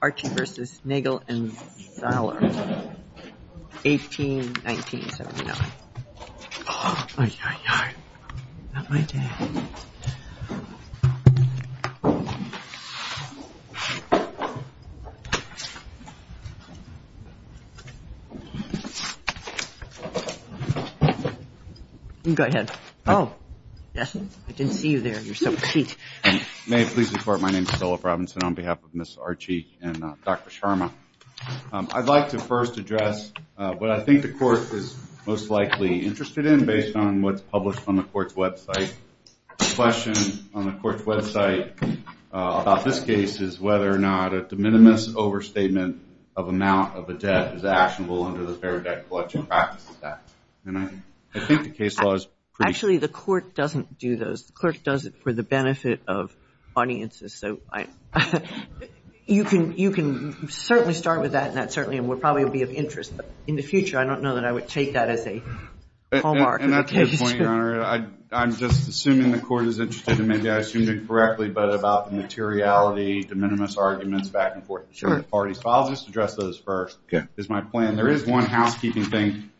Archie v. Nagle & Zaller, 18-1979. Oh my god, not my day. Go ahead. Oh, yes, I didn't see you there, you're so cute. May it please the court, my name is Phillip Robinson on behalf of Ms. Archie and Dr. Sharma. I'd like to first address what I think the court is most likely interested in based on what's published on the court's website. The question on the court's website about this case is whether or not a de minimis overstatement of amount of a debt is actionable under the Fair Debt Collection Practices Act. Actually, the court doesn't do those. The clerk does it for the benefit of audiences. So you can certainly start with that and that certainly will probably be of interest. In the future, I don't know that I would take that as a hallmark. I'm just assuming the court is interested and maybe I assumed it correctly, but about the materiality, de minimis arguments back and forth between the parties. I'll just address those first is my plan. There is one housekeeping thing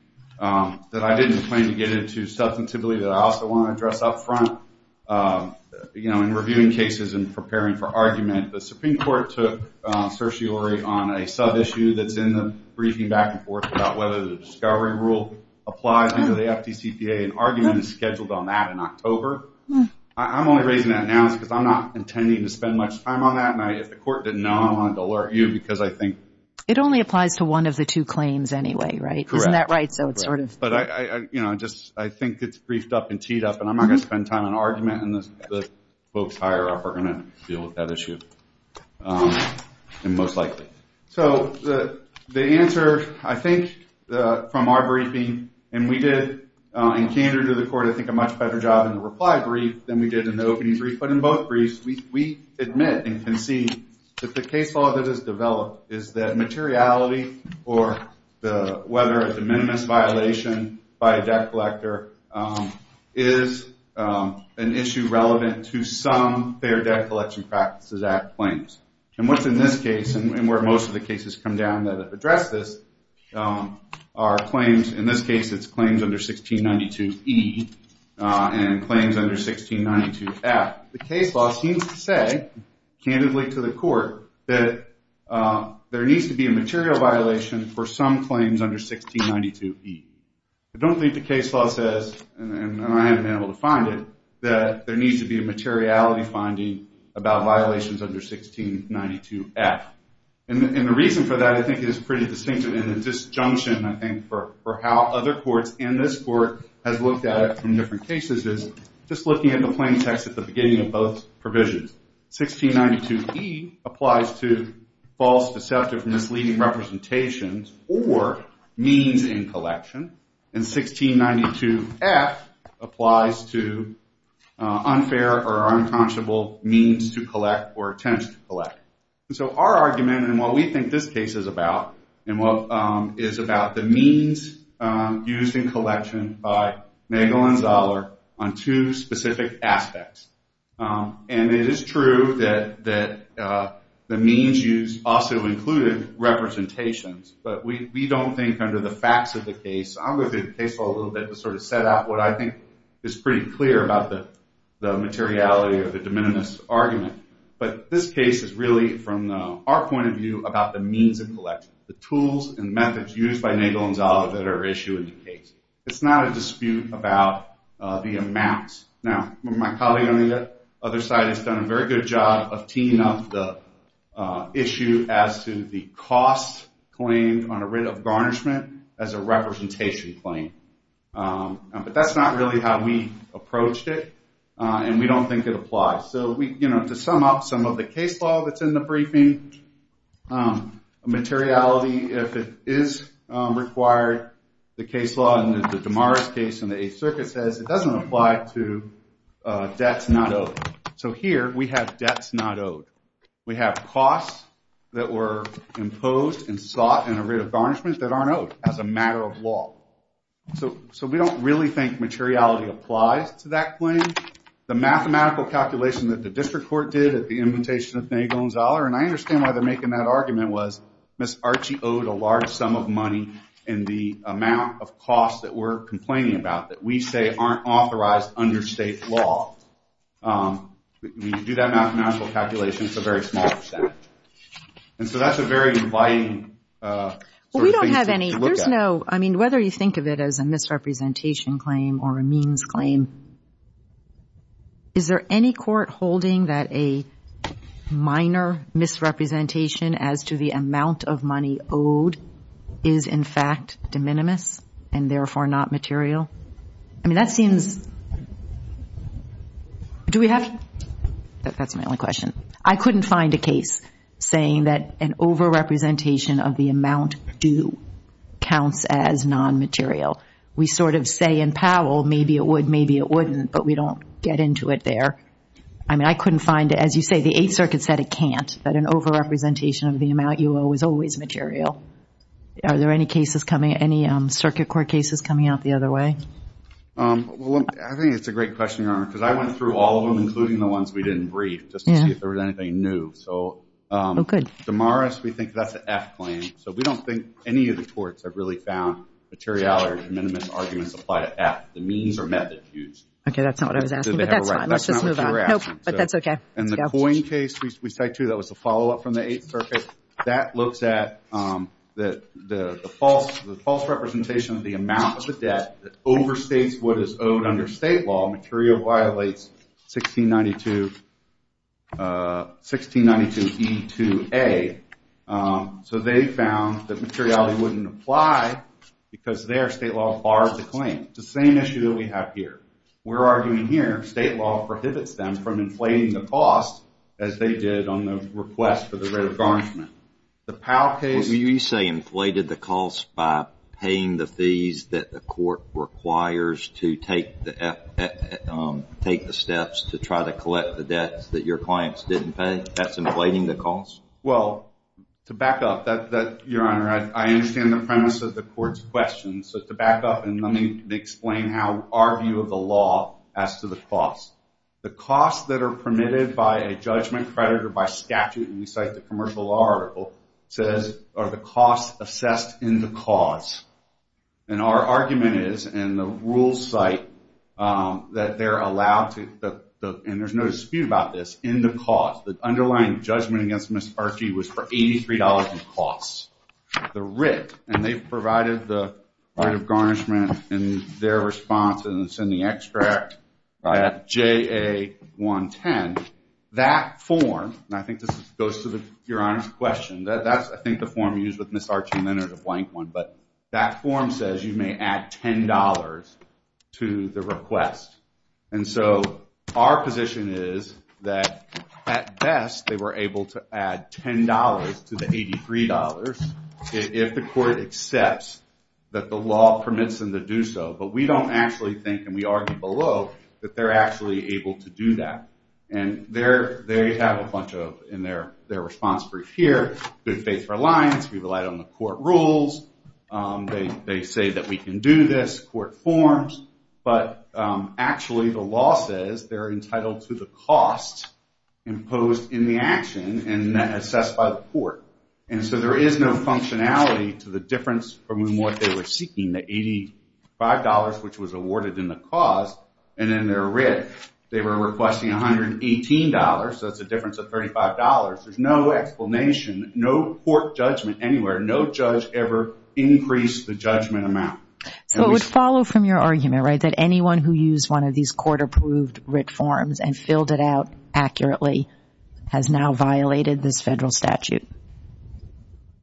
that I didn't plan to get into substantively that I also want to address up front. In reviewing cases and preparing for argument, the Supreme Court took certiorari on a sub-issue that's in the briefing back and forth about whether the discovery rule applies under the FDCPA. An argument is scheduled on that in October. I'm only raising that now because I'm not intending to spend much time on that. If the court didn't know, I don't want to alert you because I think… It only applies to one of the two claims anyway, right? Correct. Isn't that right? I think it's briefed up and teed up and I'm not going to spend time on argument and the folks higher up are going to deal with that issue most likely. So, the answer I think from our briefing and we did in candor to the court I think a much better job in the reply brief than we did in the opening brief. But in both briefs, we admit and concede that the case law that has developed is that materiality or whether it's a minimis violation by a debt collector is an issue relevant to some fair debt collection practices at claims. And what's in this case and where most of the cases come down that have addressed this are claims. In this case, it's claims under 1692E and claims under 1692F. The case law seems to say candidly to the court that there needs to be a material violation for some claims under 1692E. I don't think the case law says and I haven't been able to find it that there needs to be a materiality finding about violations under 1692F. And the reason for that I think is pretty distinctive and the disjunction I think for how other courts and this court has looked at it from different cases is just looking at the plain text at the beginning of both provisions. 1692E applies to false, deceptive, misleading representations or means in collection. And 1692F applies to unfair or unconscionable means to collect or attempts to collect. And so our argument and what we think this case is about is about the means used in collection by Nagel and Zahler on two specific aspects. And it is true that the means used also included representations, but we don't think under the facts of the case. I'm going to do the case law a little bit to sort of set out what I think is pretty clear about the materiality of the de minimis argument. But this case is really from our point of view about the means of collection, the tools and methods used by Nagel and Zahler that are issued in the case. It's not a dispute about the amounts. Now, my colleague on the other side has done a very good job of teeing up the issue as to the cost claimed on a writ of garnishment as a representation claim. But that's not really how we approached it and we don't think it applies. So to sum up some of the case law that's in the briefing, materiality, if it is required, the case law and the Damaris case and the Eighth Circuit says it doesn't apply to debts not owed. So here we have debts not owed. We have costs that were imposed and sought in a writ of garnishment that aren't owed as a matter of law. So we don't really think materiality applies to that claim. The mathematical calculation that the District Court did at the invitation of Nagel and Zahler, and I understand why they're making that argument, was Ms. Archie owed a large sum of money in the amount of costs that we're complaining about that we say aren't authorized under state law. When you do that mathematical calculation, it's a very small percent. And so that's a very inviting sort of thing to look at. So, I mean, whether you think of it as a misrepresentation claim or a means claim, is there any court holding that a minor misrepresentation as to the amount of money owed is in fact de minimis and therefore not material? I mean, that seems, do we have, that's my only question. I couldn't find a case saying that an over-representation of the amount due counts as non-material. We sort of say in Powell, maybe it would, maybe it wouldn't, but we don't get into it there. I mean, I couldn't find, as you say, the Eighth Circuit said it can't, that an over-representation of the amount you owe is always material. Are there any cases coming, any circuit court cases coming out the other way? Well, I think it's a great question, Your Honor, because I went through all of them, including the ones we didn't brief, just to see if there was anything new. So, Damaris, we think that's an F claim. So we don't think any of the courts have really found materiality or de minimis arguments apply to F, the means or method used. Okay, that's not what I was asking, but that's fine. Let's just move on. That's not what you were asking. Nope, but that's okay. And the Coyne case we cite, too, that was a follow-up from the Eighth Circuit, that looks at the false representation of the amount of the debt that overstates what is owed under state law. Material violates 1692E2A. So they found that materiality wouldn't apply because their state law barred the claim. It's the same issue that we have here. We're arguing here state law prohibits them from inflating the cost, as they did on the request for the right of garnishment. The Powell case… Well, you say inflated the cost by paying the fees that the court requires to take the steps to try to collect the debts that your clients didn't pay? That's inflating the cost? Well, to back up, Your Honor, I understand the premise of the court's question. So to back up and let me explain how our view of the law as to the cost. The cost that are permitted by a judgment creditor by statute, and we cite the commercial law article, says are the costs assessed in the cause. And our argument is in the rules cite that they're allowed to… And there's no dispute about this. In the cause, the underlying judgment against Ms. Archie was for $83 in costs. The writ, and they've provided the right of garnishment in their response, and it's in the extract. I have JA-110. That form, and I think this goes to Your Honor's question. That's, I think, the form used with Ms. Archie Leonard, a blank one. But that form says you may add $10 to the request. And so our position is that at best, they were able to add $10 to the $83 if the court accepts that the law permits them to do so. But we don't actually think, and we argue below, that they're actually able to do that. And they have a bunch of, in their response brief here, good faith reliance. We relied on the court rules. They say that we can do this. Court forms. But actually, the law says they're entitled to the cost imposed in the action and then assessed by the court. And so there is no functionality to the difference from what they were seeking, the $85, which was awarded in the cost, and then their writ. They were requesting $118, so that's a difference of $35. There's no explanation, no court judgment anywhere. No judge ever increased the judgment amount. So it would follow from your argument, right, that anyone who used one of these court-approved writ forms and filled it out accurately has now violated this federal statute?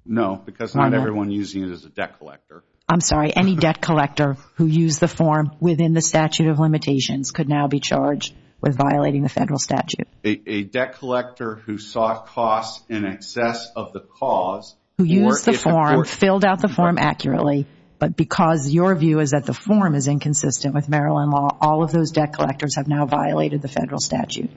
No, because not everyone using it is a debt collector. I'm sorry. Any debt collector who used the form within the statute of limitations could now be charged with violating the federal statute? A debt collector who saw costs in excess of the cause. Who used the form, filled out the form accurately, but because your view is that the form is inconsistent with Maryland law, all of those debt collectors have now violated the federal statute.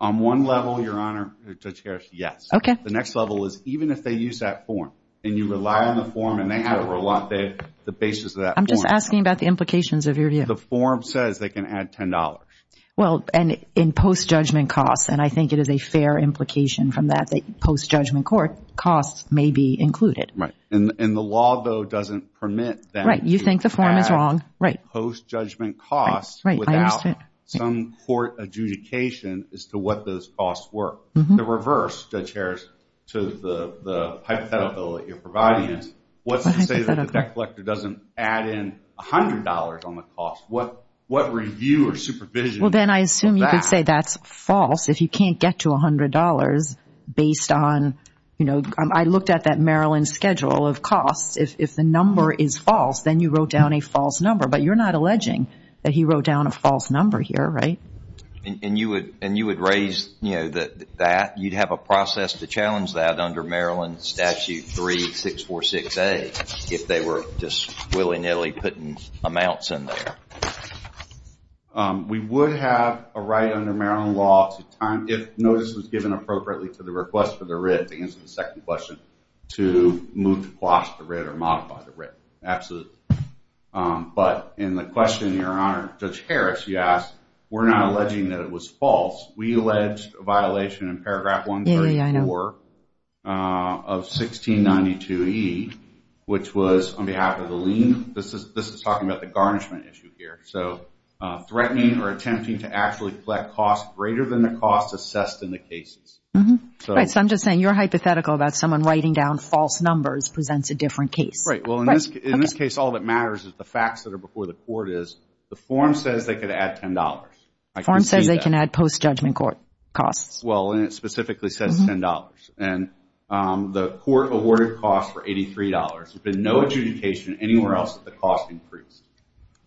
On one level, Your Honor, Judge Harris, yes. Okay. The next level is even if they use that form and you rely on the form and they have to rely on the basis of that form. I'm just asking about the implications of your view. The form says they can add $10. Well, and in post-judgment costs, and I think it is a fair implication from that that post-judgment court costs may be included. Right. And the law, though, doesn't permit them to add post-judgment costs without some court adjudication as to what those costs were. The reverse, Judge Harris, to the hypothetical that you're providing is what's to say that the debt collector doesn't add in $100 on the cost? What review or supervision? Well, then I assume you could say that's false if you can't get to $100 based on, you know, I looked at that Maryland schedule of costs. If the number is false, then you wrote down a false number. But you're not alleging that he wrote down a false number here, right? And you would raise, you know, that you'd have a process to challenge that under Maryland Statute 3646A if they were just willy-nilly putting amounts in there. We would have a right under Maryland law to time, if notice was given appropriately to the request for the writ to answer the second question, to move the cost of the writ or modify the writ. Absolutely. But in the question, Your Honor, Judge Harris, you asked, we're not alleging that it was false. We alleged a violation in paragraph 134 of 1692E, which was on behalf of the lien. This is talking about the garnishment issue here. So, threatening or attempting to actually collect costs greater than the costs assessed in the cases. Right. So, I'm just saying you're hypothetical about someone writing down false numbers presents a different case. Right. Well, in this case, all that matters is the facts that are before the court is the form says they could add $10. The form says they can add post-judgment court costs. Well, and it specifically says $10. And the court awarded costs for $83. There's been no adjudication anywhere else that the cost increased.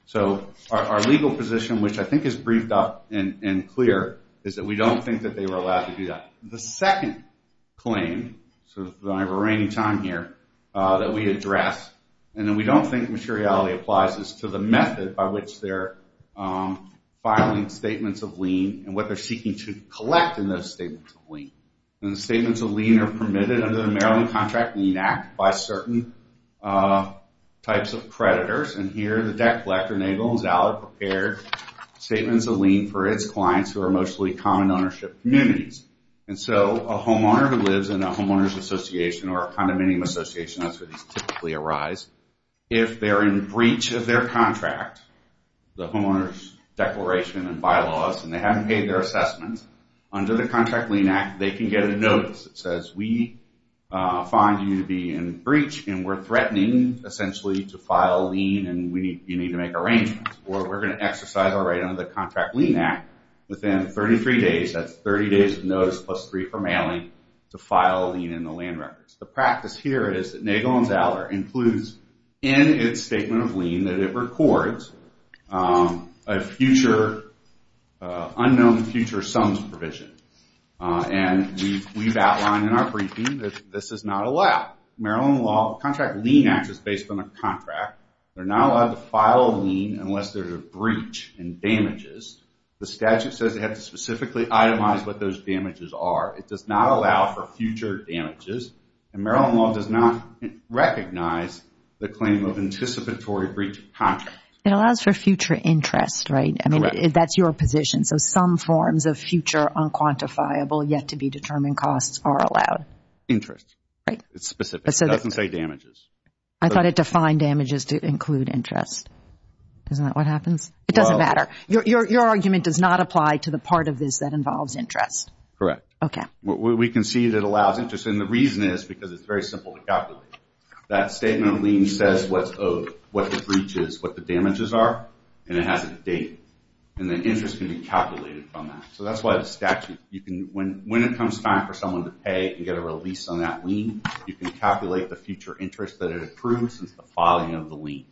So, our legal position, which I think is briefed up and clear, is that we don't think that they were allowed to do that. The second claim, so I don't have a reigning time here, that we address, and that we don't think materiality applies to the method by which they're filing statements of lien and what they're seeking to collect in those statements of lien. And the statements of lien are permitted under the Maryland Contract Lien Act by certain types of creditors. And here, the debt collector enables valid, prepared statements of lien for its clients who are mostly common ownership communities. And so, a homeowner who lives in a homeowner's association or a condominium association, that's where these typically arise, if they're in breach of their contract, the homeowner's declaration and bylaws, and they haven't paid their assessment, under the Contract Lien Act, they can get a notice that says, we find you to be in breach, and we're threatening, essentially, to file a lien, and you need to make arrangements, or we're going to exercise our right under the Contract Lien Act within 33 days, that's 30 days of notice plus three for mailing, to file a lien in the land records. The practice here is that Nagel and Zeller includes in its statement of lien that it records a future, unknown future sums provision. And we've outlined in our briefing that this is not allowed. Maryland law, Contract Lien Act is based on a contract. They're not allowed to file a lien unless there's a breach and damages. The statute says they have to specifically itemize what those damages are. It does not allow for future damages, and Maryland law does not recognize the claim of anticipatory breach of contract. It allows for future interest, right? That's your position, so some forms of future unquantifiable yet-to-be-determined costs are allowed. Interest. Right. It's specific. It doesn't say damages. I thought it defined damages to include interest. Isn't that what happens? It doesn't matter. Your argument does not apply to the part of this that involves interest. Correct. We can see that it allows interest, and the reason is because it's very simple to calculate. That statement of lien says what's owed, what the breach is, what the damages are, and it has a date. And the interest can be calculated from that. So that's why the statute, when it comes time for someone to pay and get a release on that lien, you can calculate the future interest that it approved since the filing of the lien.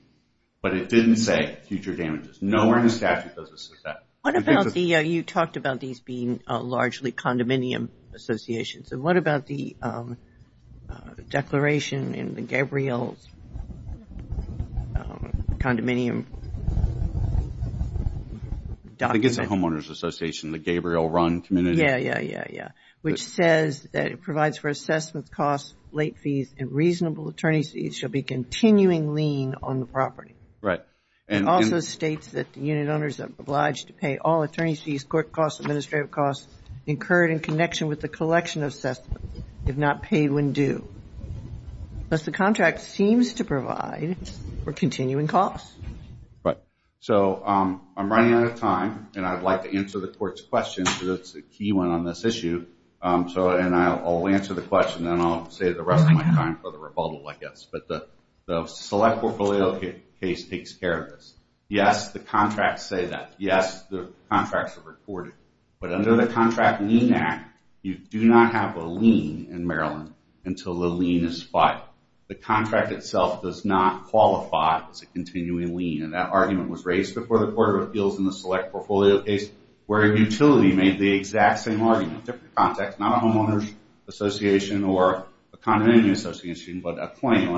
But it didn't say future damages. Nowhere in the statute does it say that. You talked about these being largely condominium associations. And what about the declaration in the Gabriel's condominium document? I think it's the Homeowners Association, the Gabriel-run community. Yeah, yeah, yeah, yeah, which says that it provides for assessment costs, late fees, and reasonable attorney fees shall be continuing lien on the property. Right. It also states that the unit owners are obliged to pay all attorney fees, court costs, administrative costs incurred in connection with the collection of assessment, if not paid when due. Thus the contract seems to provide for continuing costs. So I'm running out of time, and I'd like to answer the Court's question because it's a key one on this issue. And I'll answer the question, and then I'll save the rest of my time for the rebuttal, I guess. But the select portfolio case takes care of this. Yes, the contracts say that. Yes, the contracts are recorded. But under the Contract Lien Act, you do not have a lien in Maryland until the lien is filed. The contract itself does not qualify as a continuing lien, and that argument was raised before the Court of Appeals in the select portfolio case, where a utility made the exact same argument, different context, not a homeowners association or a condominium association, but a claim.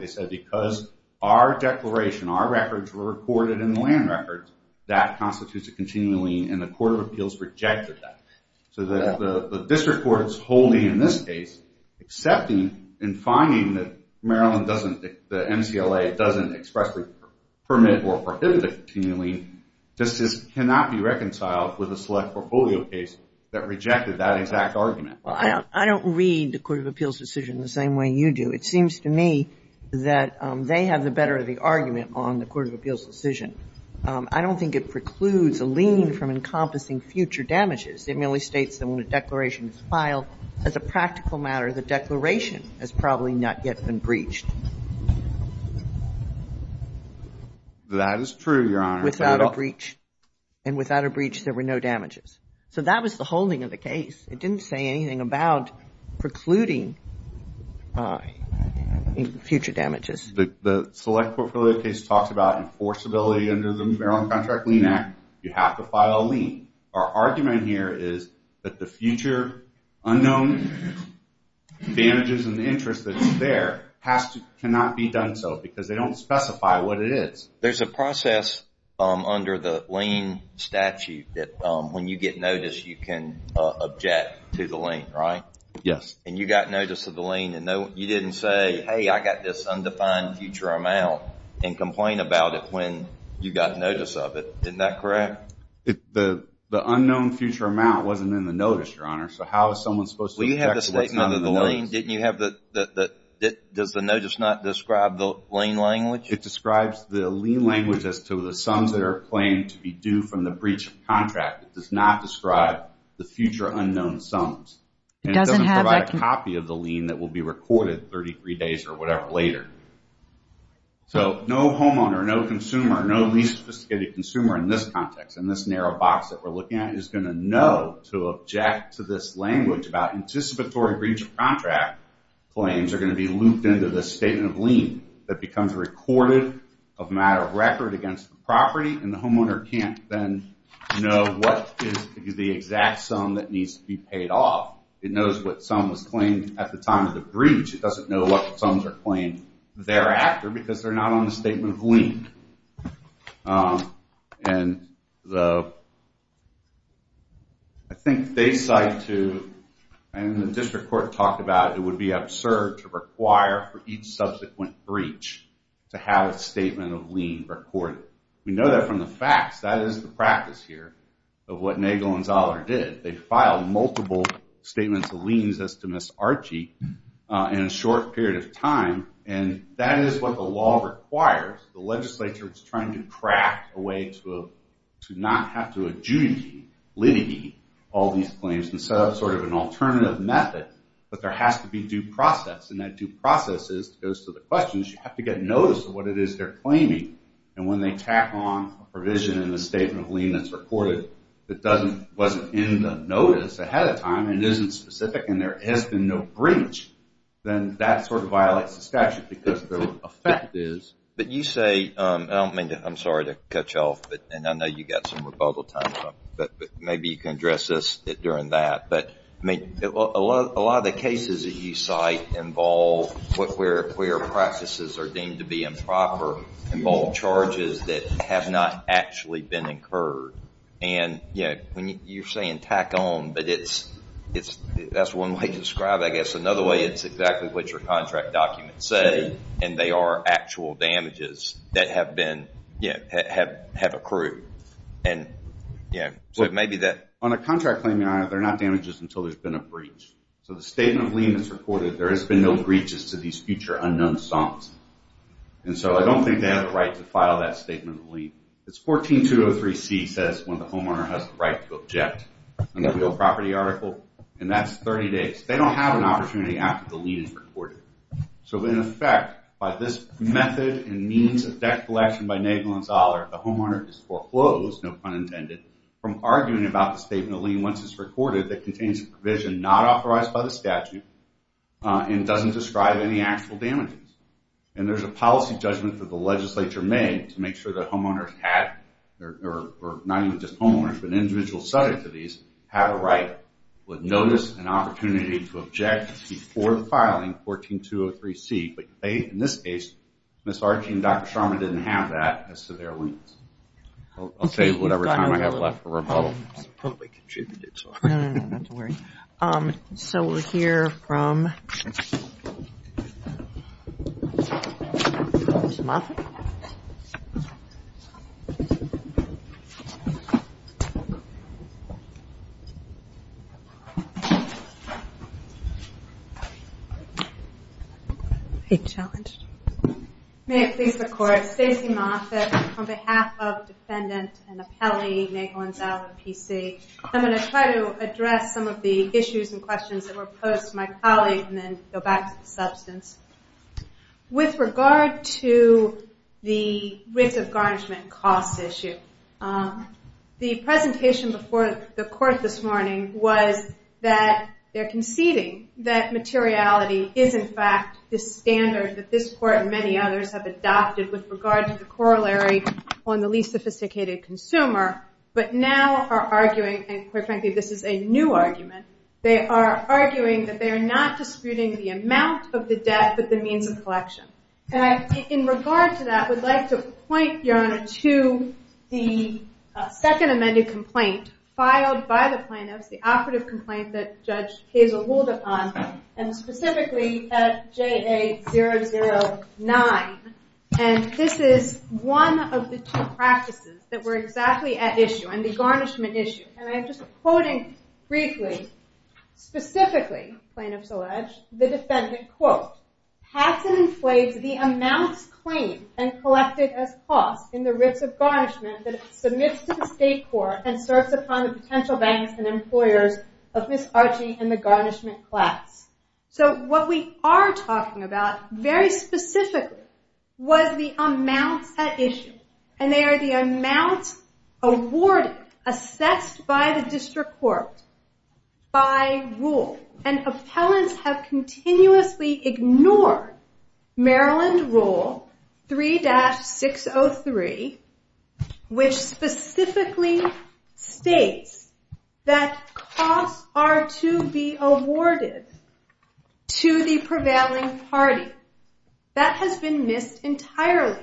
They said because our declaration, our records were recorded in the land records, that constitutes a continuing lien, and the Court of Appeals rejected that. So the district court is holding in this case, accepting and finding that Maryland doesn't, that MCLA doesn't expressly permit or prohibit a continuing lien, this cannot be reconciled with the select portfolio case that rejected that exact argument. Well, I don't read the Court of Appeals decision the same way you do. It seems to me that they have the better of the argument on the Court of Appeals decision. I don't think it precludes a lien from encompassing future damages. It merely states that when a declaration is filed, as a practical matter, the declaration has probably not yet been breached. That is true, Your Honor. Without a breach. And without a breach, there were no damages. So that was the holding of the case. It didn't say anything about precluding future damages. The select portfolio case talks about enforceability under the Maryland Contract Lien Act. You have to file a lien. Our argument here is that the future unknown advantages and interest that's there cannot be done so because they don't specify what it is. There's a process under the lien statute that when you get notice you can object to the lien, right? Yes. And you got notice of the lien and you didn't say, hey, I got this undefined future amount and complain about it when you got notice of it. Isn't that correct? The unknown future amount wasn't in the notice, Your Honor. So how is someone supposed to object to what's not in the notice? Well, you have the statement of the lien. Does the notice not describe the lien language? It describes the lien language as to the sums that are claimed to be due from the breach of contract. It does not describe the future unknown sums. And it doesn't provide a copy of the lien that will be recorded 33 days or whatever later. So no homeowner, no consumer, no least sophisticated consumer in this context, in this narrow box that we're looking at, is going to know to object to this language about anticipatory breach of contract claims are going to be looped into the statement of lien that becomes recorded of a matter of record against the property. And the homeowner can't then know what is the exact sum that needs to be paid off. It knows what sum was claimed at the time of the breach. It doesn't know what sums are claimed thereafter because they're not on the statement of lien. And I think they cite to, and the district court talked about, it would be absurd to require for each subsequent breach to have a statement of lien recorded. We know that from the facts. That is the practice here of what Nagel and Zahler did. They filed multiple statements of liens as to Ms. Archie in a short period of time. And that is what the law requires. The legislature is trying to craft a way to not have to adjudicate, litigate, all these claims and set up sort of an alternative method. But there has to be due process. And that due process goes to the questions. You have to get notice of what it is they're claiming. And when they tack on a provision in the statement of lien that's recorded that wasn't in the notice ahead of time and isn't specific and there has been no breach, then that sort of violates the statute But you say, I'm sorry to cut you off, and I know you've got some rebuttal time, but maybe you can address this during that. A lot of the cases that you cite involve where practices are deemed to be improper, involve charges that have not actually been incurred. And you're saying tack on, but that's one way to describe it. I guess another way, it's exactly what your contract documents say, and they are actual damages that have accrued. On a contract claim, they're not damages until there's been a breach. So the statement of lien that's recorded, there has been no breaches to these future unknown songs. And so I don't think they have the right to file that statement of lien. It's 14203C says when the homeowner has the right to object in the real property article, and that's 30 days. They don't have an opportunity after the lien is recorded. So in effect, by this method and means of deflection by Nagel and Zahler, the homeowner is foreclosed, no pun intended, from arguing about the statement of lien once it's recorded that contains a provision not authorized by the statute and doesn't describe any actual damages. And there's a policy judgment for the legislature made to make sure that homeowners have, or not even just homeowners, but individuals subject to these, have a right, would notice an opportunity to object before filing 14203C. But in this case, Ms. Archie and Dr. Sharma didn't have that as severe liens. I'll say whatever time I have left for rebuttal. I probably contributed. No, no, no, not to worry. So we'll hear from Ms. Moffitt. May it please the court. Stacey Moffitt on behalf of defendant and appellee, Nagel and Zahler PC. I'm going to try to address some of the issues and questions that were posed to my colleague and then go back to the substance. With regard to the risk of garnishment cost issue, the presentation before the court this morning was that they're conceding that materiality is, in fact, the standard that this court and many others have adopted with regard to the corollary on the least sophisticated consumer, but now are arguing, and quite frankly this is a new argument, they are arguing that they are not disputing the amount of the debt but the means of collection. And in regard to that, I would like to point, Your Honor, to the second amended complaint filed by the plaintiffs, the operative complaint that Judge Hazel ruled upon, and specifically at JA009. And this is one of the two practices that were exactly at issue and the garnishment issue. And I'm just quoting briefly, specifically, plaintiffs allege, the defendant, quote, has and inflates the amounts claimed and collected as costs in the risk of garnishment that it submits to the state court and serves upon the potential banks and employers of Ms. Archie and the garnishment class. So what we are talking about, very specifically, was the amounts at issue. And they are the amounts awarded, assessed by the district court, by rule. And appellants have continuously ignored Maryland Rule 3-603, which specifically states that costs are to be awarded to the prevailing party. That has been missed entirely.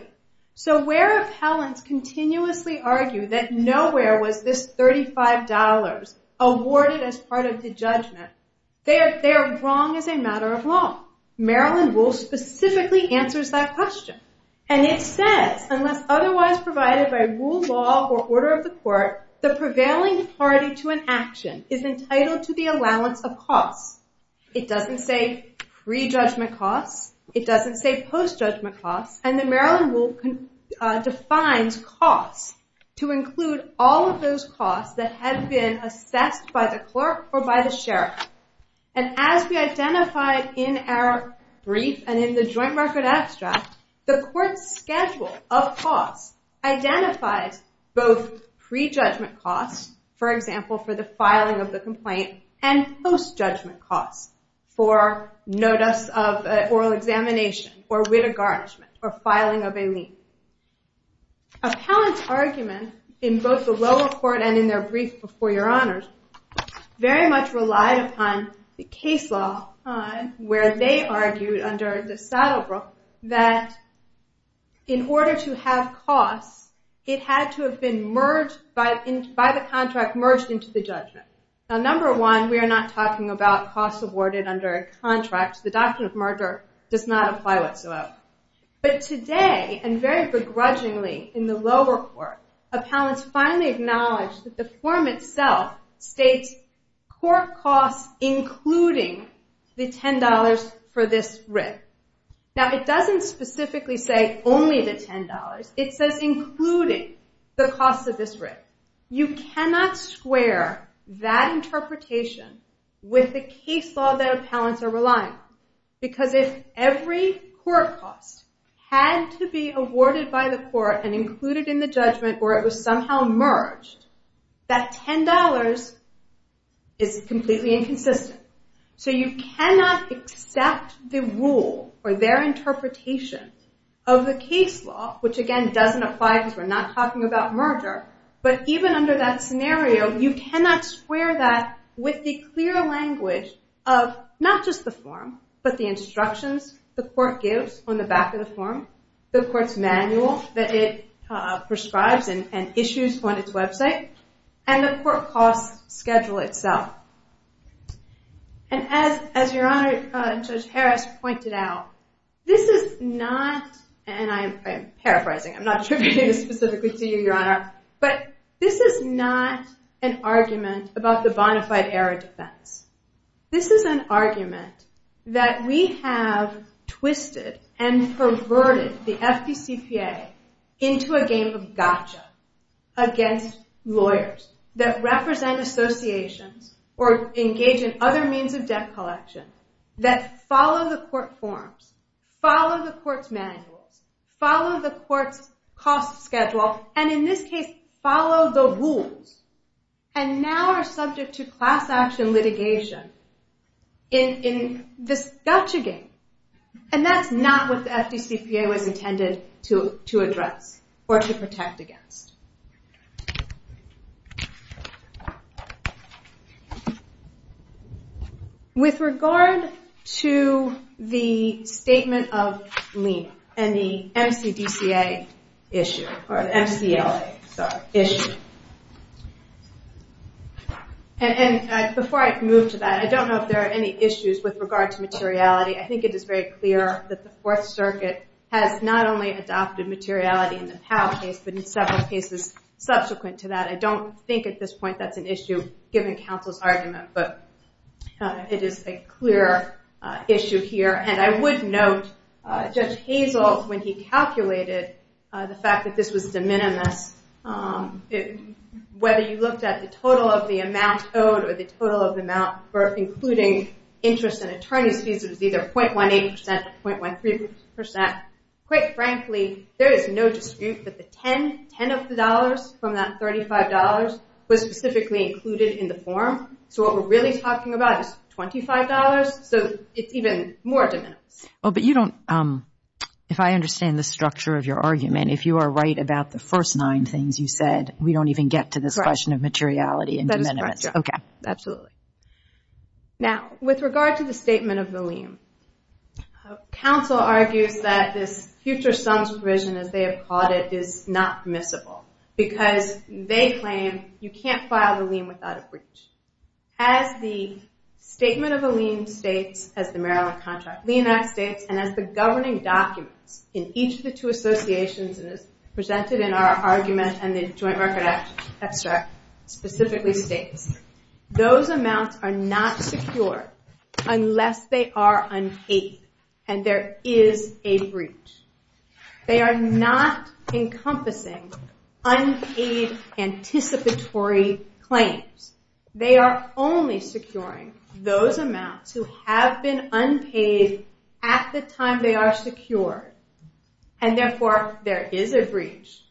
So where appellants continuously argue that nowhere was this $35 awarded as part of the judgment, they are wrong as a matter of law. Maryland Rule specifically answers that question. And it says, unless otherwise provided by rule, law, or order of the court, the prevailing party to an action is entitled to the allowance of costs. It doesn't say pre-judgment costs. It doesn't say post-judgment costs. And the Maryland Rule defines costs to include all of those costs that have been assessed by the clerk or by the sheriff. And as we identified in our brief and in the joint record abstract, the court's schedule of costs identifies both pre-judgment costs, for example, for the filing of the complaint, and post-judgment costs for notice of oral examination or with a garnishment or filing of a lien. Appellants' argument in both the lower court and in their brief before your honors very much relied upon the case law where they argued under the Saddlebrook that in order to have costs, it had to have been by the contract merged into the judgment. Now, number one, we are not talking about costs awarded under a contract. The doctrine of merger does not apply whatsoever. But today, and very begrudgingly in the lower court, appellants finally acknowledge that the form itself states court costs including the $10 for this writ. Now, it doesn't specifically say only the $10. It says including the costs of this writ. You cannot square that interpretation with the case law that appellants are relying on. Because if every court cost had to be awarded by the court and included in the judgment or it was somehow merged, that $10 is completely inconsistent. So you cannot accept the rule or their interpretation of the case law, which, again, doesn't apply because we're not talking about merger. But even under that scenario, you cannot square that with the clear language of not just the form, but the instructions the court gives on the back of the form, the court's manual that it prescribes and issues on its website, and the court cost schedule itself. And as Your Honor, Judge Harris pointed out, this is not, and I am paraphrasing. I'm not attributing this specifically to you, Your Honor. But this is not an argument about the bonafide-era defense. This is an argument that we have twisted and perverted the FPCPA into a game of gotcha against lawyers that represent associations or engage in other means of debt collection that follow the court forms, follow the court's manuals, follow the court's cost schedule, and in this case, follow the rules, and now are subject to class-action litigation in this gotcha game. And that's not what the FPCPA was intended to address or to protect against. With regard to the statement of lien and the MCDCA issue, or MCLA, sorry, issue, and before I move to that, I don't know if there are any issues with regard to materiality. I think it is very clear that the Fourth Circuit has not only adopted materiality in the Powell case but in several cases subsequent to that. I don't think at this point that's an issue, given counsel's argument, but it is a clear issue here. And I would note Judge Hazel, when he calculated the fact that this was de minimis, whether you looked at the total of the amount owed or the total of the amount, including interest and attorney's fees, it was either 0.18% or 0.13%. Quite frankly, there is no dispute that the 10 of the dollars from that $35 was specifically included in the form. So what we're really talking about is $25, so it's even more de minimis. But you don't, if I understand the structure of your argument, if you are right about the first nine things you said, we don't even get to this question of materiality and de minimis. That is correct, yeah. Okay. Absolutely. Now, with regard to the statement of the lien, counsel argues that this future sums provision, as they have called it, is not permissible because they claim you can't file the lien without a breach. As the statement of a lien states, as the Maryland contract lien act states, and as the governing documents in each of the two associations presented in our argument and the joint record extract specifically states, those amounts are not secure unless they are unpaid and there is a breach. They are not encompassing unpaid anticipatory claims. They are only securing those amounts who have been unpaid at the time they are secure, and therefore there is a breach.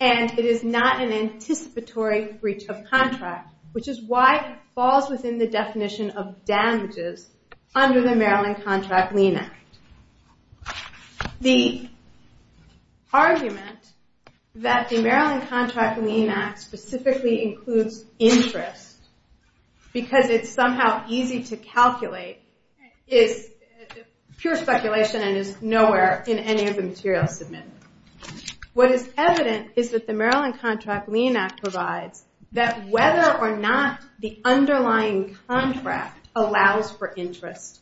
And it is not an anticipatory breach of contract, which is why it falls within the definition of damages under the Maryland contract lien act. The argument that the Maryland contract lien act specifically includes interest because it's somehow easy to calculate is pure speculation and is nowhere in any of the materials submitted. What is evident is that the Maryland contract lien act provides that whether or not the underlying contract allows for interest,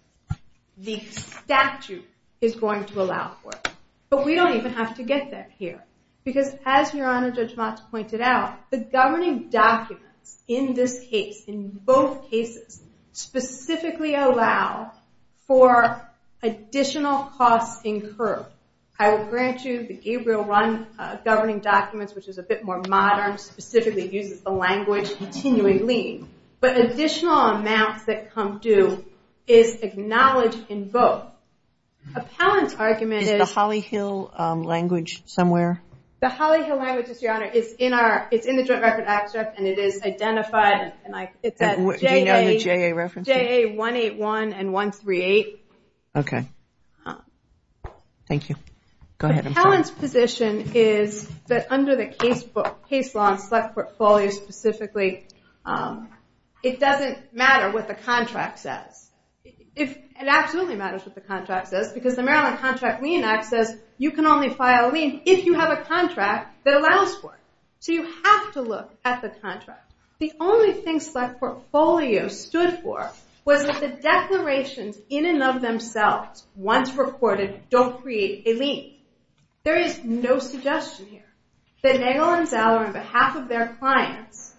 the statute is going to allow for it. But we don't even have to get there here because, as Your Honor, Judge Motz pointed out, the governing documents in this case, in both cases, specifically allow for additional costs incurred. I will grant you the Gabriel run governing documents, which is a bit more modern, specifically uses the language continuing lien. But additional amounts that come due is acknowledged in both. Appellant's argument is... Is the Holly Hill language somewhere? The Holly Hill language is in the joint record extract and it is identified. Do you know the JA reference? JA 181 and 138. Okay. Thank you. Go ahead. Appellant's position is that under the case law and select portfolio specifically, it doesn't matter what the contract says. It absolutely matters what the contract says because the Maryland contract lien act says you can only file a lien if you have a contract that allows for it. So you have to look at the contract. The only thing select portfolio stood for was that the declarations in and of themselves, once recorded, don't create a lien. There is no suggestion here that Nagel and Zeller, on behalf of their clients,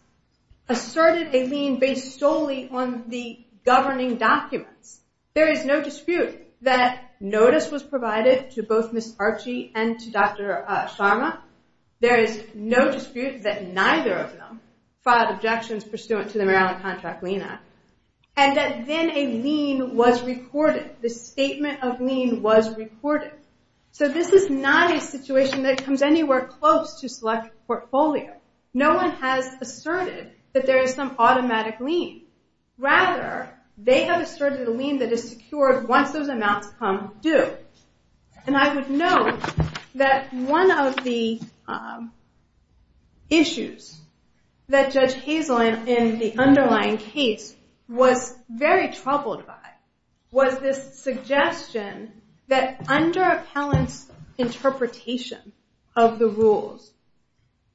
asserted a lien based solely on the governing documents. There is no dispute that notice was provided to both Ms. Archie and to Dr. Sharma. There is no dispute that neither of them filed objections pursuant to the Maryland contract lien act. And that then a lien was recorded, the statement of lien was recorded. So this is not a situation that comes anywhere close to select portfolio. No one has asserted that there is some automatic lien. Rather, they have asserted a lien that is secured once those amounts come due. And I would note that one of the issues that Judge Hazel in the underlying case was very troubled by was this suggestion that under appellant's interpretation of the rules,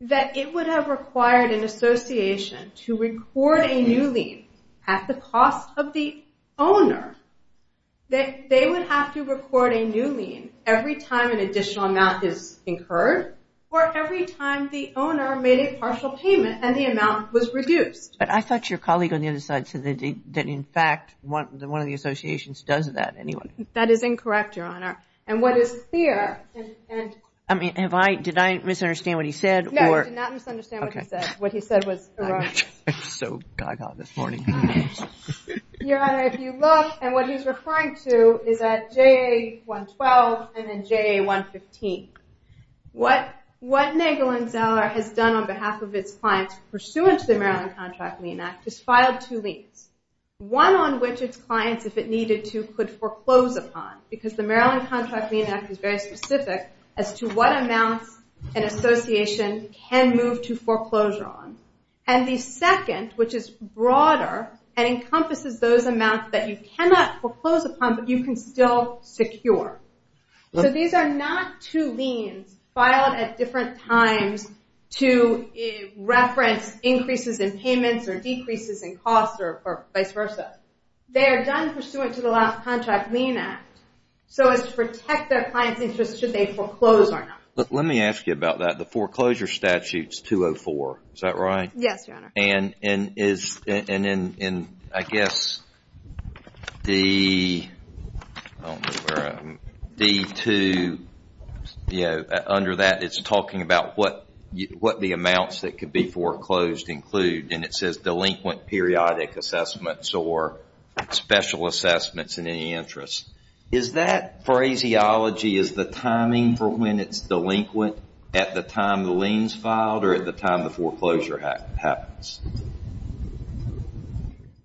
that it would have required an association to record a new lien at the cost of the owner, that they would have to record a new lien every time an additional amount is incurred or every time the owner made a partial payment and the amount was reduced. But I thought your colleague on the other side said that, in fact, one of the associations does that anyway. That is incorrect, Your Honor. And what is clear... I mean, did I misunderstand what he said? No, you did not misunderstand what he said. What he said was erroneous. I'm so gaga this morning. Your Honor, if you look at what he's referring to, is that JA 112 and then JA 115. What Nagel and Zeller has done on behalf of its clients pursuant to the Maryland Contract Lien Act is filed two liens. One on which its clients, if it needed to, could foreclose upon because the Maryland Contract Lien Act is very specific as to what amounts an association can move to foreclosure on. And the second, which is broader and encompasses those amounts that you cannot foreclose upon but you can still secure. So these are not two liens filed at different times to reference increases in payments or decreases in costs or vice versa. They are done pursuant to the contract lien act so as to protect their client's interest should they foreclose or not. Let me ask you about that. The foreclosure statute is 204, is that right? Yes, Your Honor. And in, I guess, the... I don't know where I am. D2, you know, under that it's talking about what the amounts that could be foreclosed include. And it says delinquent periodic assessments or special assessments in any interest. Is that phraseology, is the timing for when it's delinquent at the time the lien is filed or at the time the foreclosure happens?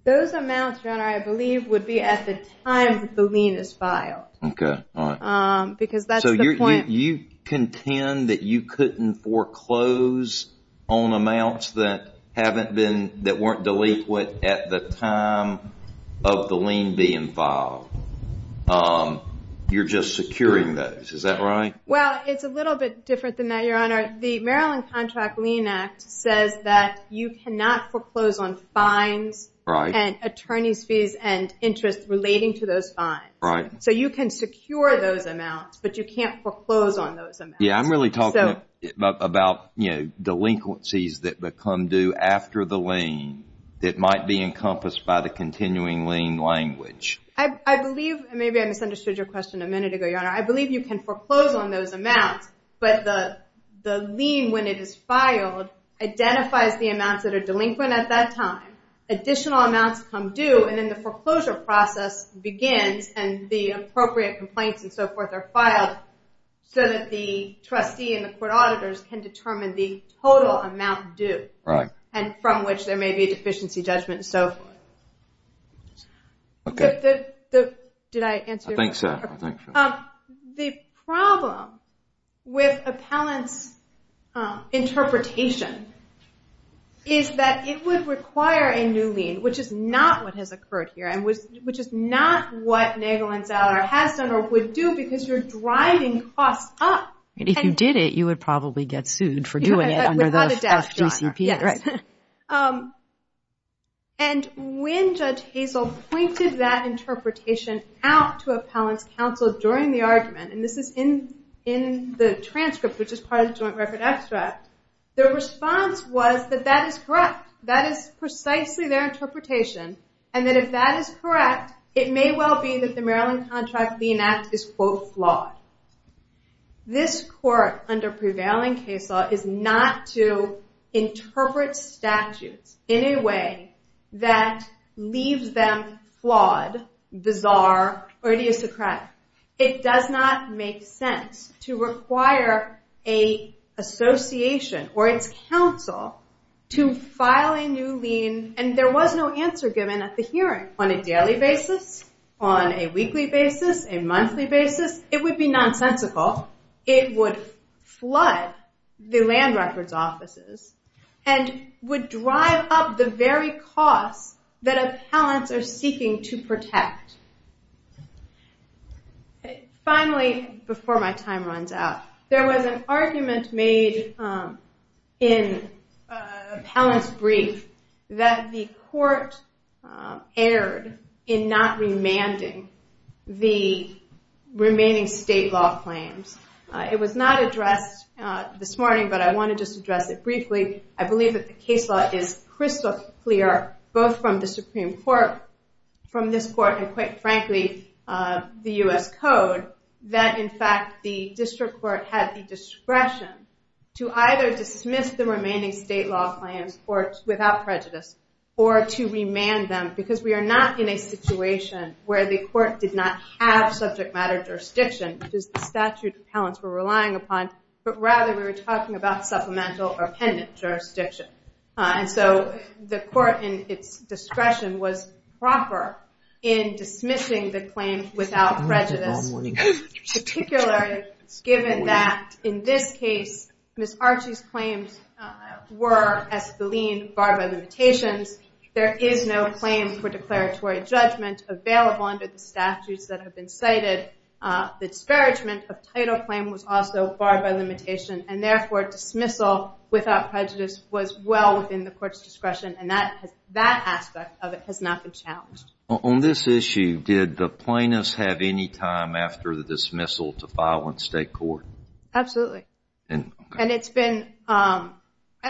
Those amounts, Your Honor, I believe would be at the time the lien is filed. Okay, all right. Because that's the point. So you contend that you couldn't foreclose on amounts that haven't been, that weren't delinquent at the time of the lien being filed. You're just securing those, is that right? Well, it's a little bit different than that, Your Honor. The Maryland Contract Lien Act says that you cannot foreclose on fines and attorney's fees and interest relating to those fines. Right. So you can secure those amounts, but you can't foreclose on those amounts. Yeah, I'm really talking about delinquencies that become due after the lien that might be encompassed by the continuing lien language. I believe, and maybe I misunderstood your question a minute ago, Your Honor, I believe you can foreclose on those amounts, but the lien when it is filed identifies the amounts that are delinquent at that time, additional amounts come due, and then the foreclosure process begins, and the appropriate complaints and so forth are filed so that the trustee and the court auditors can determine the total amount due. Right. And from which there may be a deficiency judgment and so forth. Okay. Did I answer your question? I think so. The problem with appellant's interpretation is that it would require a new lien, which is not what has occurred here, and which is not what Nagel and Zeller has done or would do because you're driving costs up. If you did it, you would probably get sued for doing it under the FGCP. Yes. And when Judge Hazel pointed that interpretation out to appellant's counsel during the argument, and this is in the transcript, which is part of the Joint Record Extract, their response was that that is correct. That is precisely their interpretation, and that if that is correct, it may well be that the Maryland Contract Lien Act is, quote, flawed. This court under prevailing case law is not to interpret statutes in a way that leaves them flawed, bizarre, or idiosyncratic. It does not make sense to require an association or its counsel to file a new lien, and there was no answer given at the hearing on a daily basis, on a weekly basis, a monthly basis. It would be nonsensical. It would flood the land records offices and would drive up the very costs that appellants are seeking to protect. Finally, before my time runs out, there was an argument made in appellant's brief that the court erred in not remanding the remaining state law claims. It was not addressed this morning, but I want to just address it briefly. I believe that the case law is crystal clear, both from the Supreme Court, from this court, and quite frankly, the U.S. Code, that in fact the district court had the discretion to either dismiss the remaining state law claims without prejudice or to remand them because we are not in a situation where the court did not have subject matter jurisdiction, which is the statute appellants were relying upon, but rather we were talking about supplemental or pendent jurisdiction. And so the court in its discretion was proper in dismissing the claim without prejudice, particularly given that in this case, Ms. Archie's claims were as the lien barred by limitations. There is no claim for declaratory judgment available under the statutes that have been cited. The disparagement of title claim was also barred by limitation, and therefore dismissal without prejudice was well within the court's discretion, and that aspect of it has not been challenged. On this issue, did the plaintiffs have any time after the dismissal to file in state court? Absolutely. And it's been... And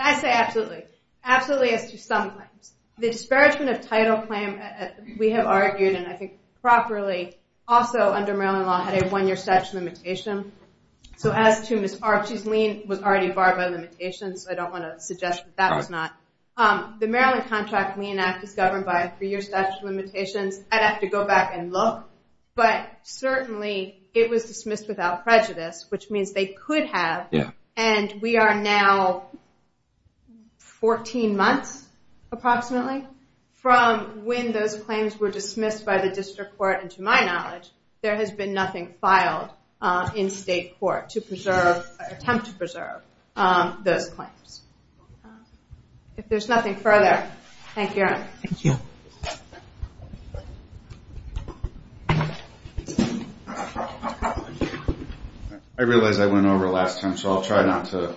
I say absolutely. Absolutely as to some claims. The disparagement of title claim, we have argued, and I think properly, also under Maryland law, had a one-year statute limitation. So as to Ms. Archie's lien was already barred by limitation, so I don't want to suggest that that was not. The Maryland Contract Lien Act is governed by a three-year statute of limitations. I'd have to go back and look. But certainly it was dismissed without prejudice, which means they could have. And we are now 14 months, approximately, from when those claims were dismissed by the district court. And to my knowledge, there has been nothing filed in state court to attempt to preserve those claims. If there's nothing further, thank you, Erin. Thank you. I realize I went over last time, so I'll try not to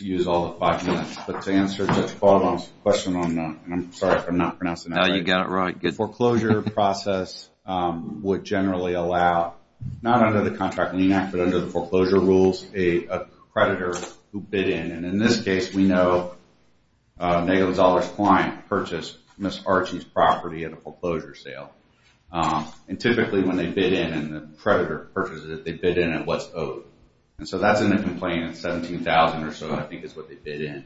use all the five minutes, but to answer Judge Baldwin's question on that, and I'm sorry if I'm not pronouncing that right. Foreclosure process would generally allow, not under the Contract Lien Act, but under the foreclosure rules, a creditor who bid in. And in this case, we know a negative-dollars client purchased Ms. Archie's property at a foreclosure sale. And typically when they bid in and the creditor purchases it, they bid in at what's owed. And so that's in the complaint at $17,000 or so, I think is what they bid in.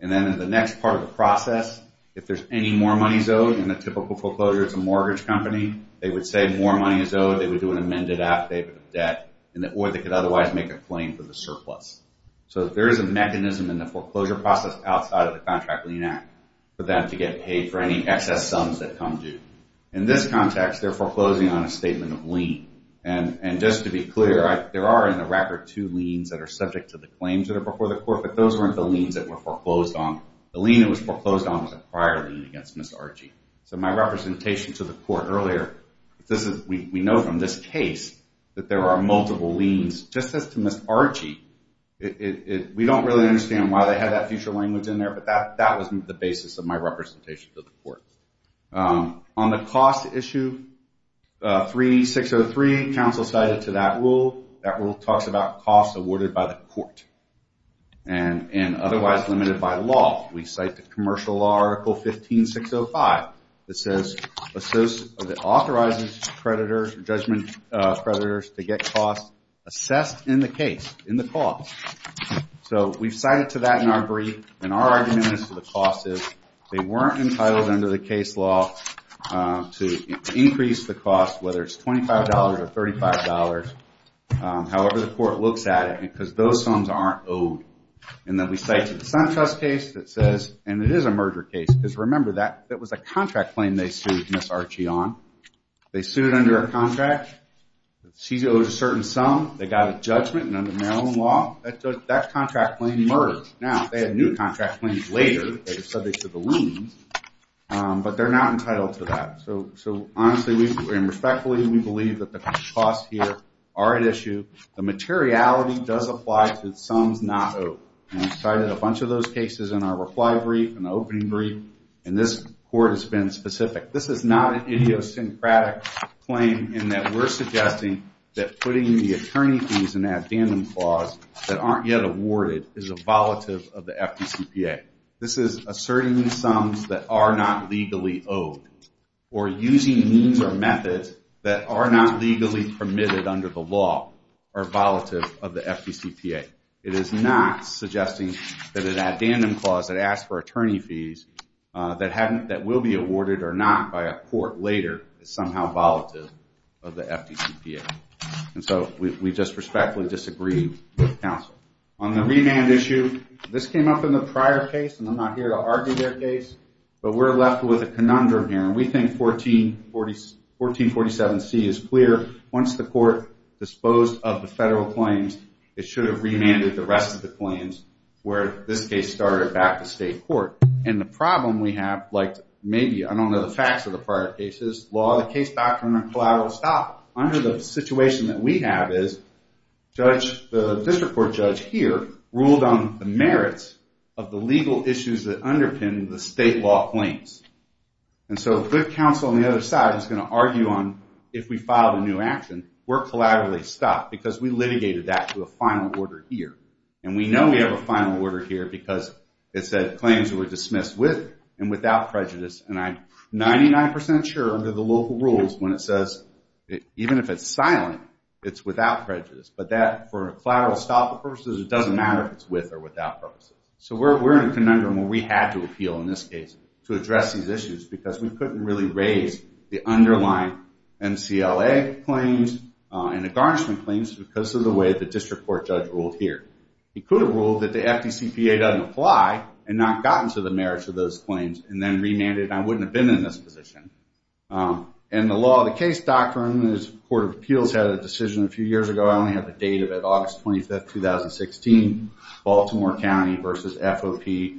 And then in the next part of the process, if there's any more money is owed in a typical foreclosure, it's a mortgage company, they would say more money is owed, they would do an amended affidavit of debt, or they could otherwise make a claim for the surplus. So there is a mechanism in the foreclosure process outside of the Contract Lien Act for them to get paid for any excess sums that come due. In this context, they're foreclosing on a statement of lien. And just to be clear, there are in the record two liens that are subject to the claims that are before the court, but those weren't the liens that were foreclosed on. The lien that was foreclosed on was a prior lien against Ms. Archie. So my representation to the court earlier, we know from this case that there are multiple liens. Just as to Ms. Archie, we don't really understand why they had that future language in there, but that was the basis of my representation to the court. On the cost issue, 3603, counsel cited to that rule. That rule talks about costs awarded by the court and otherwise limited by law. We cite the Commercial Law Article 15605 that authorizes creditors or judgment creditors to get costs assessed in the case, in the cost. So we've cited to that in our brief, and our argument as to the cost is they weren't entitled under the case law to increase the cost, whether it's $25 or $35, however the court looks at it, because those sums aren't owed. And then we cite to the SunTrust case that says, and it is a merger case, because remember, that was a contract claim they sued Ms. Archie on. They sued under a contract, she owes a certain sum, they got a judgment, and under Maryland law, that contract claim merged. Now, they had new contract claims later, they were subject to the liens, but they're not entitled to that. So, honestly, and respectfully, we believe that the costs here are at issue. The materiality does apply to sums not owed. And we cited a bunch of those cases in our reply brief, in the opening brief, and this court has been specific. This is not an idiosyncratic claim in that we're suggesting that putting the attorney fees in the addendum clause that aren't yet awarded is a volatile of the FDCPA. This is asserting sums that are not legally owed, or using means or methods that are not legally permitted under the law are volatile of the FDCPA. It is not suggesting that an addendum clause that asks for attorney fees that will be awarded or not by a court later is somehow volatile of the FDCPA. And so, we just respectfully disagree with counsel. On the remand issue, this came up in the prior case, and I'm not here to argue their case, but we're left with a conundrum here. And we think 1447C is clear. Once the court disposed of the federal claims, it should have remanded the rest of the claims where this case started back to state court. And the problem we have, like, maybe, I don't know the facts of the prior cases, law, the case back from a collateral stop, under the situation that we have is, the district court judge here ruled on the merits of the legal issues that underpin the state law claims. And so, if the counsel on the other side is going to argue on if we filed a new action, we're collaterally stopped because we litigated that to a final order here. And we know we have a final order here because it said claims were dismissed with and without prejudice. And I'm 99% sure, under the local rules, when it says, even if it's silent, it's without prejudice. But that, for collateral stop purposes, it doesn't matter if it's with or without purposes. So we're in a conundrum where we had to appeal in this case to address these issues because we couldn't really raise the underlying MCLA claims and the garnishment claims because of the way the district court judge ruled here. He could have ruled that the FDCPA doesn't apply and not gotten to the merits of those claims and then remanded and I wouldn't have been in this position. And the law, the case doctrine, the Court of Appeals had a decision a few years ago, I only have the date of it, August 25, 2016, Baltimore County versus FOP,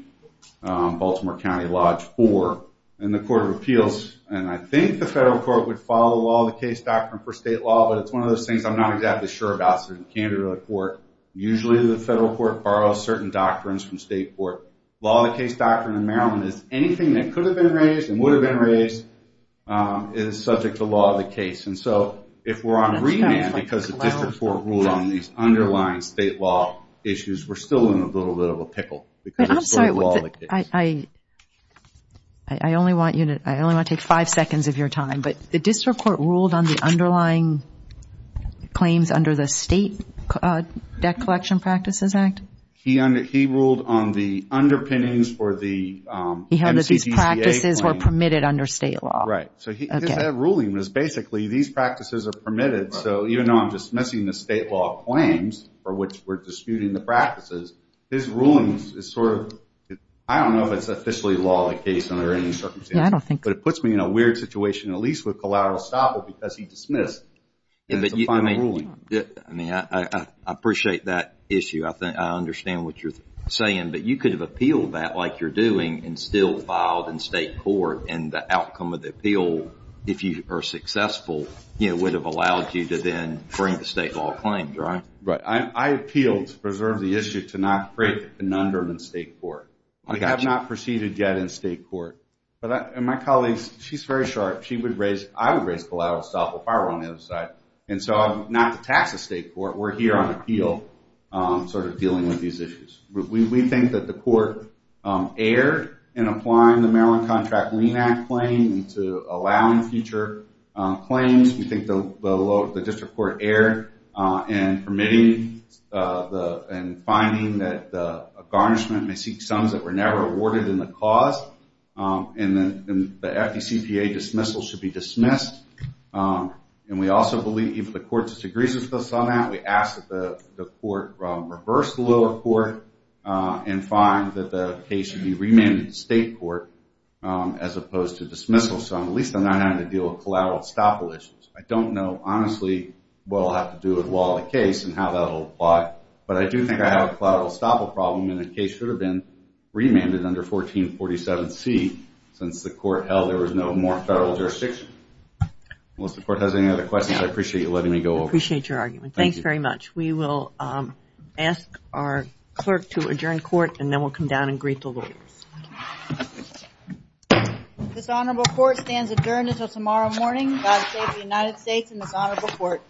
Baltimore County Lodge 4. And the Court of Appeals, and I think the federal court would follow all the case doctrine for state law, but it's one of those things I'm not exactly sure about, so it's a candid report. Usually the federal court borrows certain doctrines from state court. Law of the case doctrine in Maryland is anything that could have been raised and would have been raised is subject to law of the case. And so if we're on remand because the district court ruled on these underlying state law issues, we're still in a little bit of a pickle. Because it's still law of the case. I only want to take five seconds of your time, but the district court ruled on the underlying claims under the State Debt Collection Practices Act? He ruled on the underpinnings for the MCCCA claims. He held that these practices were permitted under state law. Right. So his ruling was basically these practices are permitted, so even though I'm dismissing the state law claims for which we're disputing the practices, his ruling is sort of, I don't know if it's officially law of the case under any circumstances, but it puts me in a weird situation at least with collateral estoppel because he dismissed it as a final ruling. I appreciate that issue. I understand what you're saying, but you could have appealed that like you're doing and still filed in state court and the outcome of the appeal, if you are successful, would have allowed you to then bring the state law claims, right? Right. I appealed to preserve the issue to not create a conundrum in state court. I have not proceeded yet in state court. And my colleague, she's very sharp. I would raise collateral estoppel if I were on the other side. And so not to tax the state court, we're here on appeal sort of dealing with these issues. We think that the court erred in applying the Maryland Contract Lien Act claim to allowing future claims. We think the district court erred in permitting and finding that a garnishment may seek sums that were never awarded in the cause. And the FDCPA dismissal should be dismissed. And we also believe if the court disagrees with us on that, we ask that the court reverse the lower court and find that the case should be remanded to state court as opposed to dismissal. So at least I'm not having to deal with collateral estoppel issues. I don't know honestly what I'll have to do with the case and how that will apply, but I do think I have a collateral estoppel problem and the case should have been remanded under 1447C since the court held there was no more federal jurisdiction. Unless the court has any other questions, I appreciate you letting me go over. We will ask our clerk to adjourn court and then we'll come down and greet the lawyers. This honorable court stands adjourned until tomorrow morning. God save the United States and this honorable court.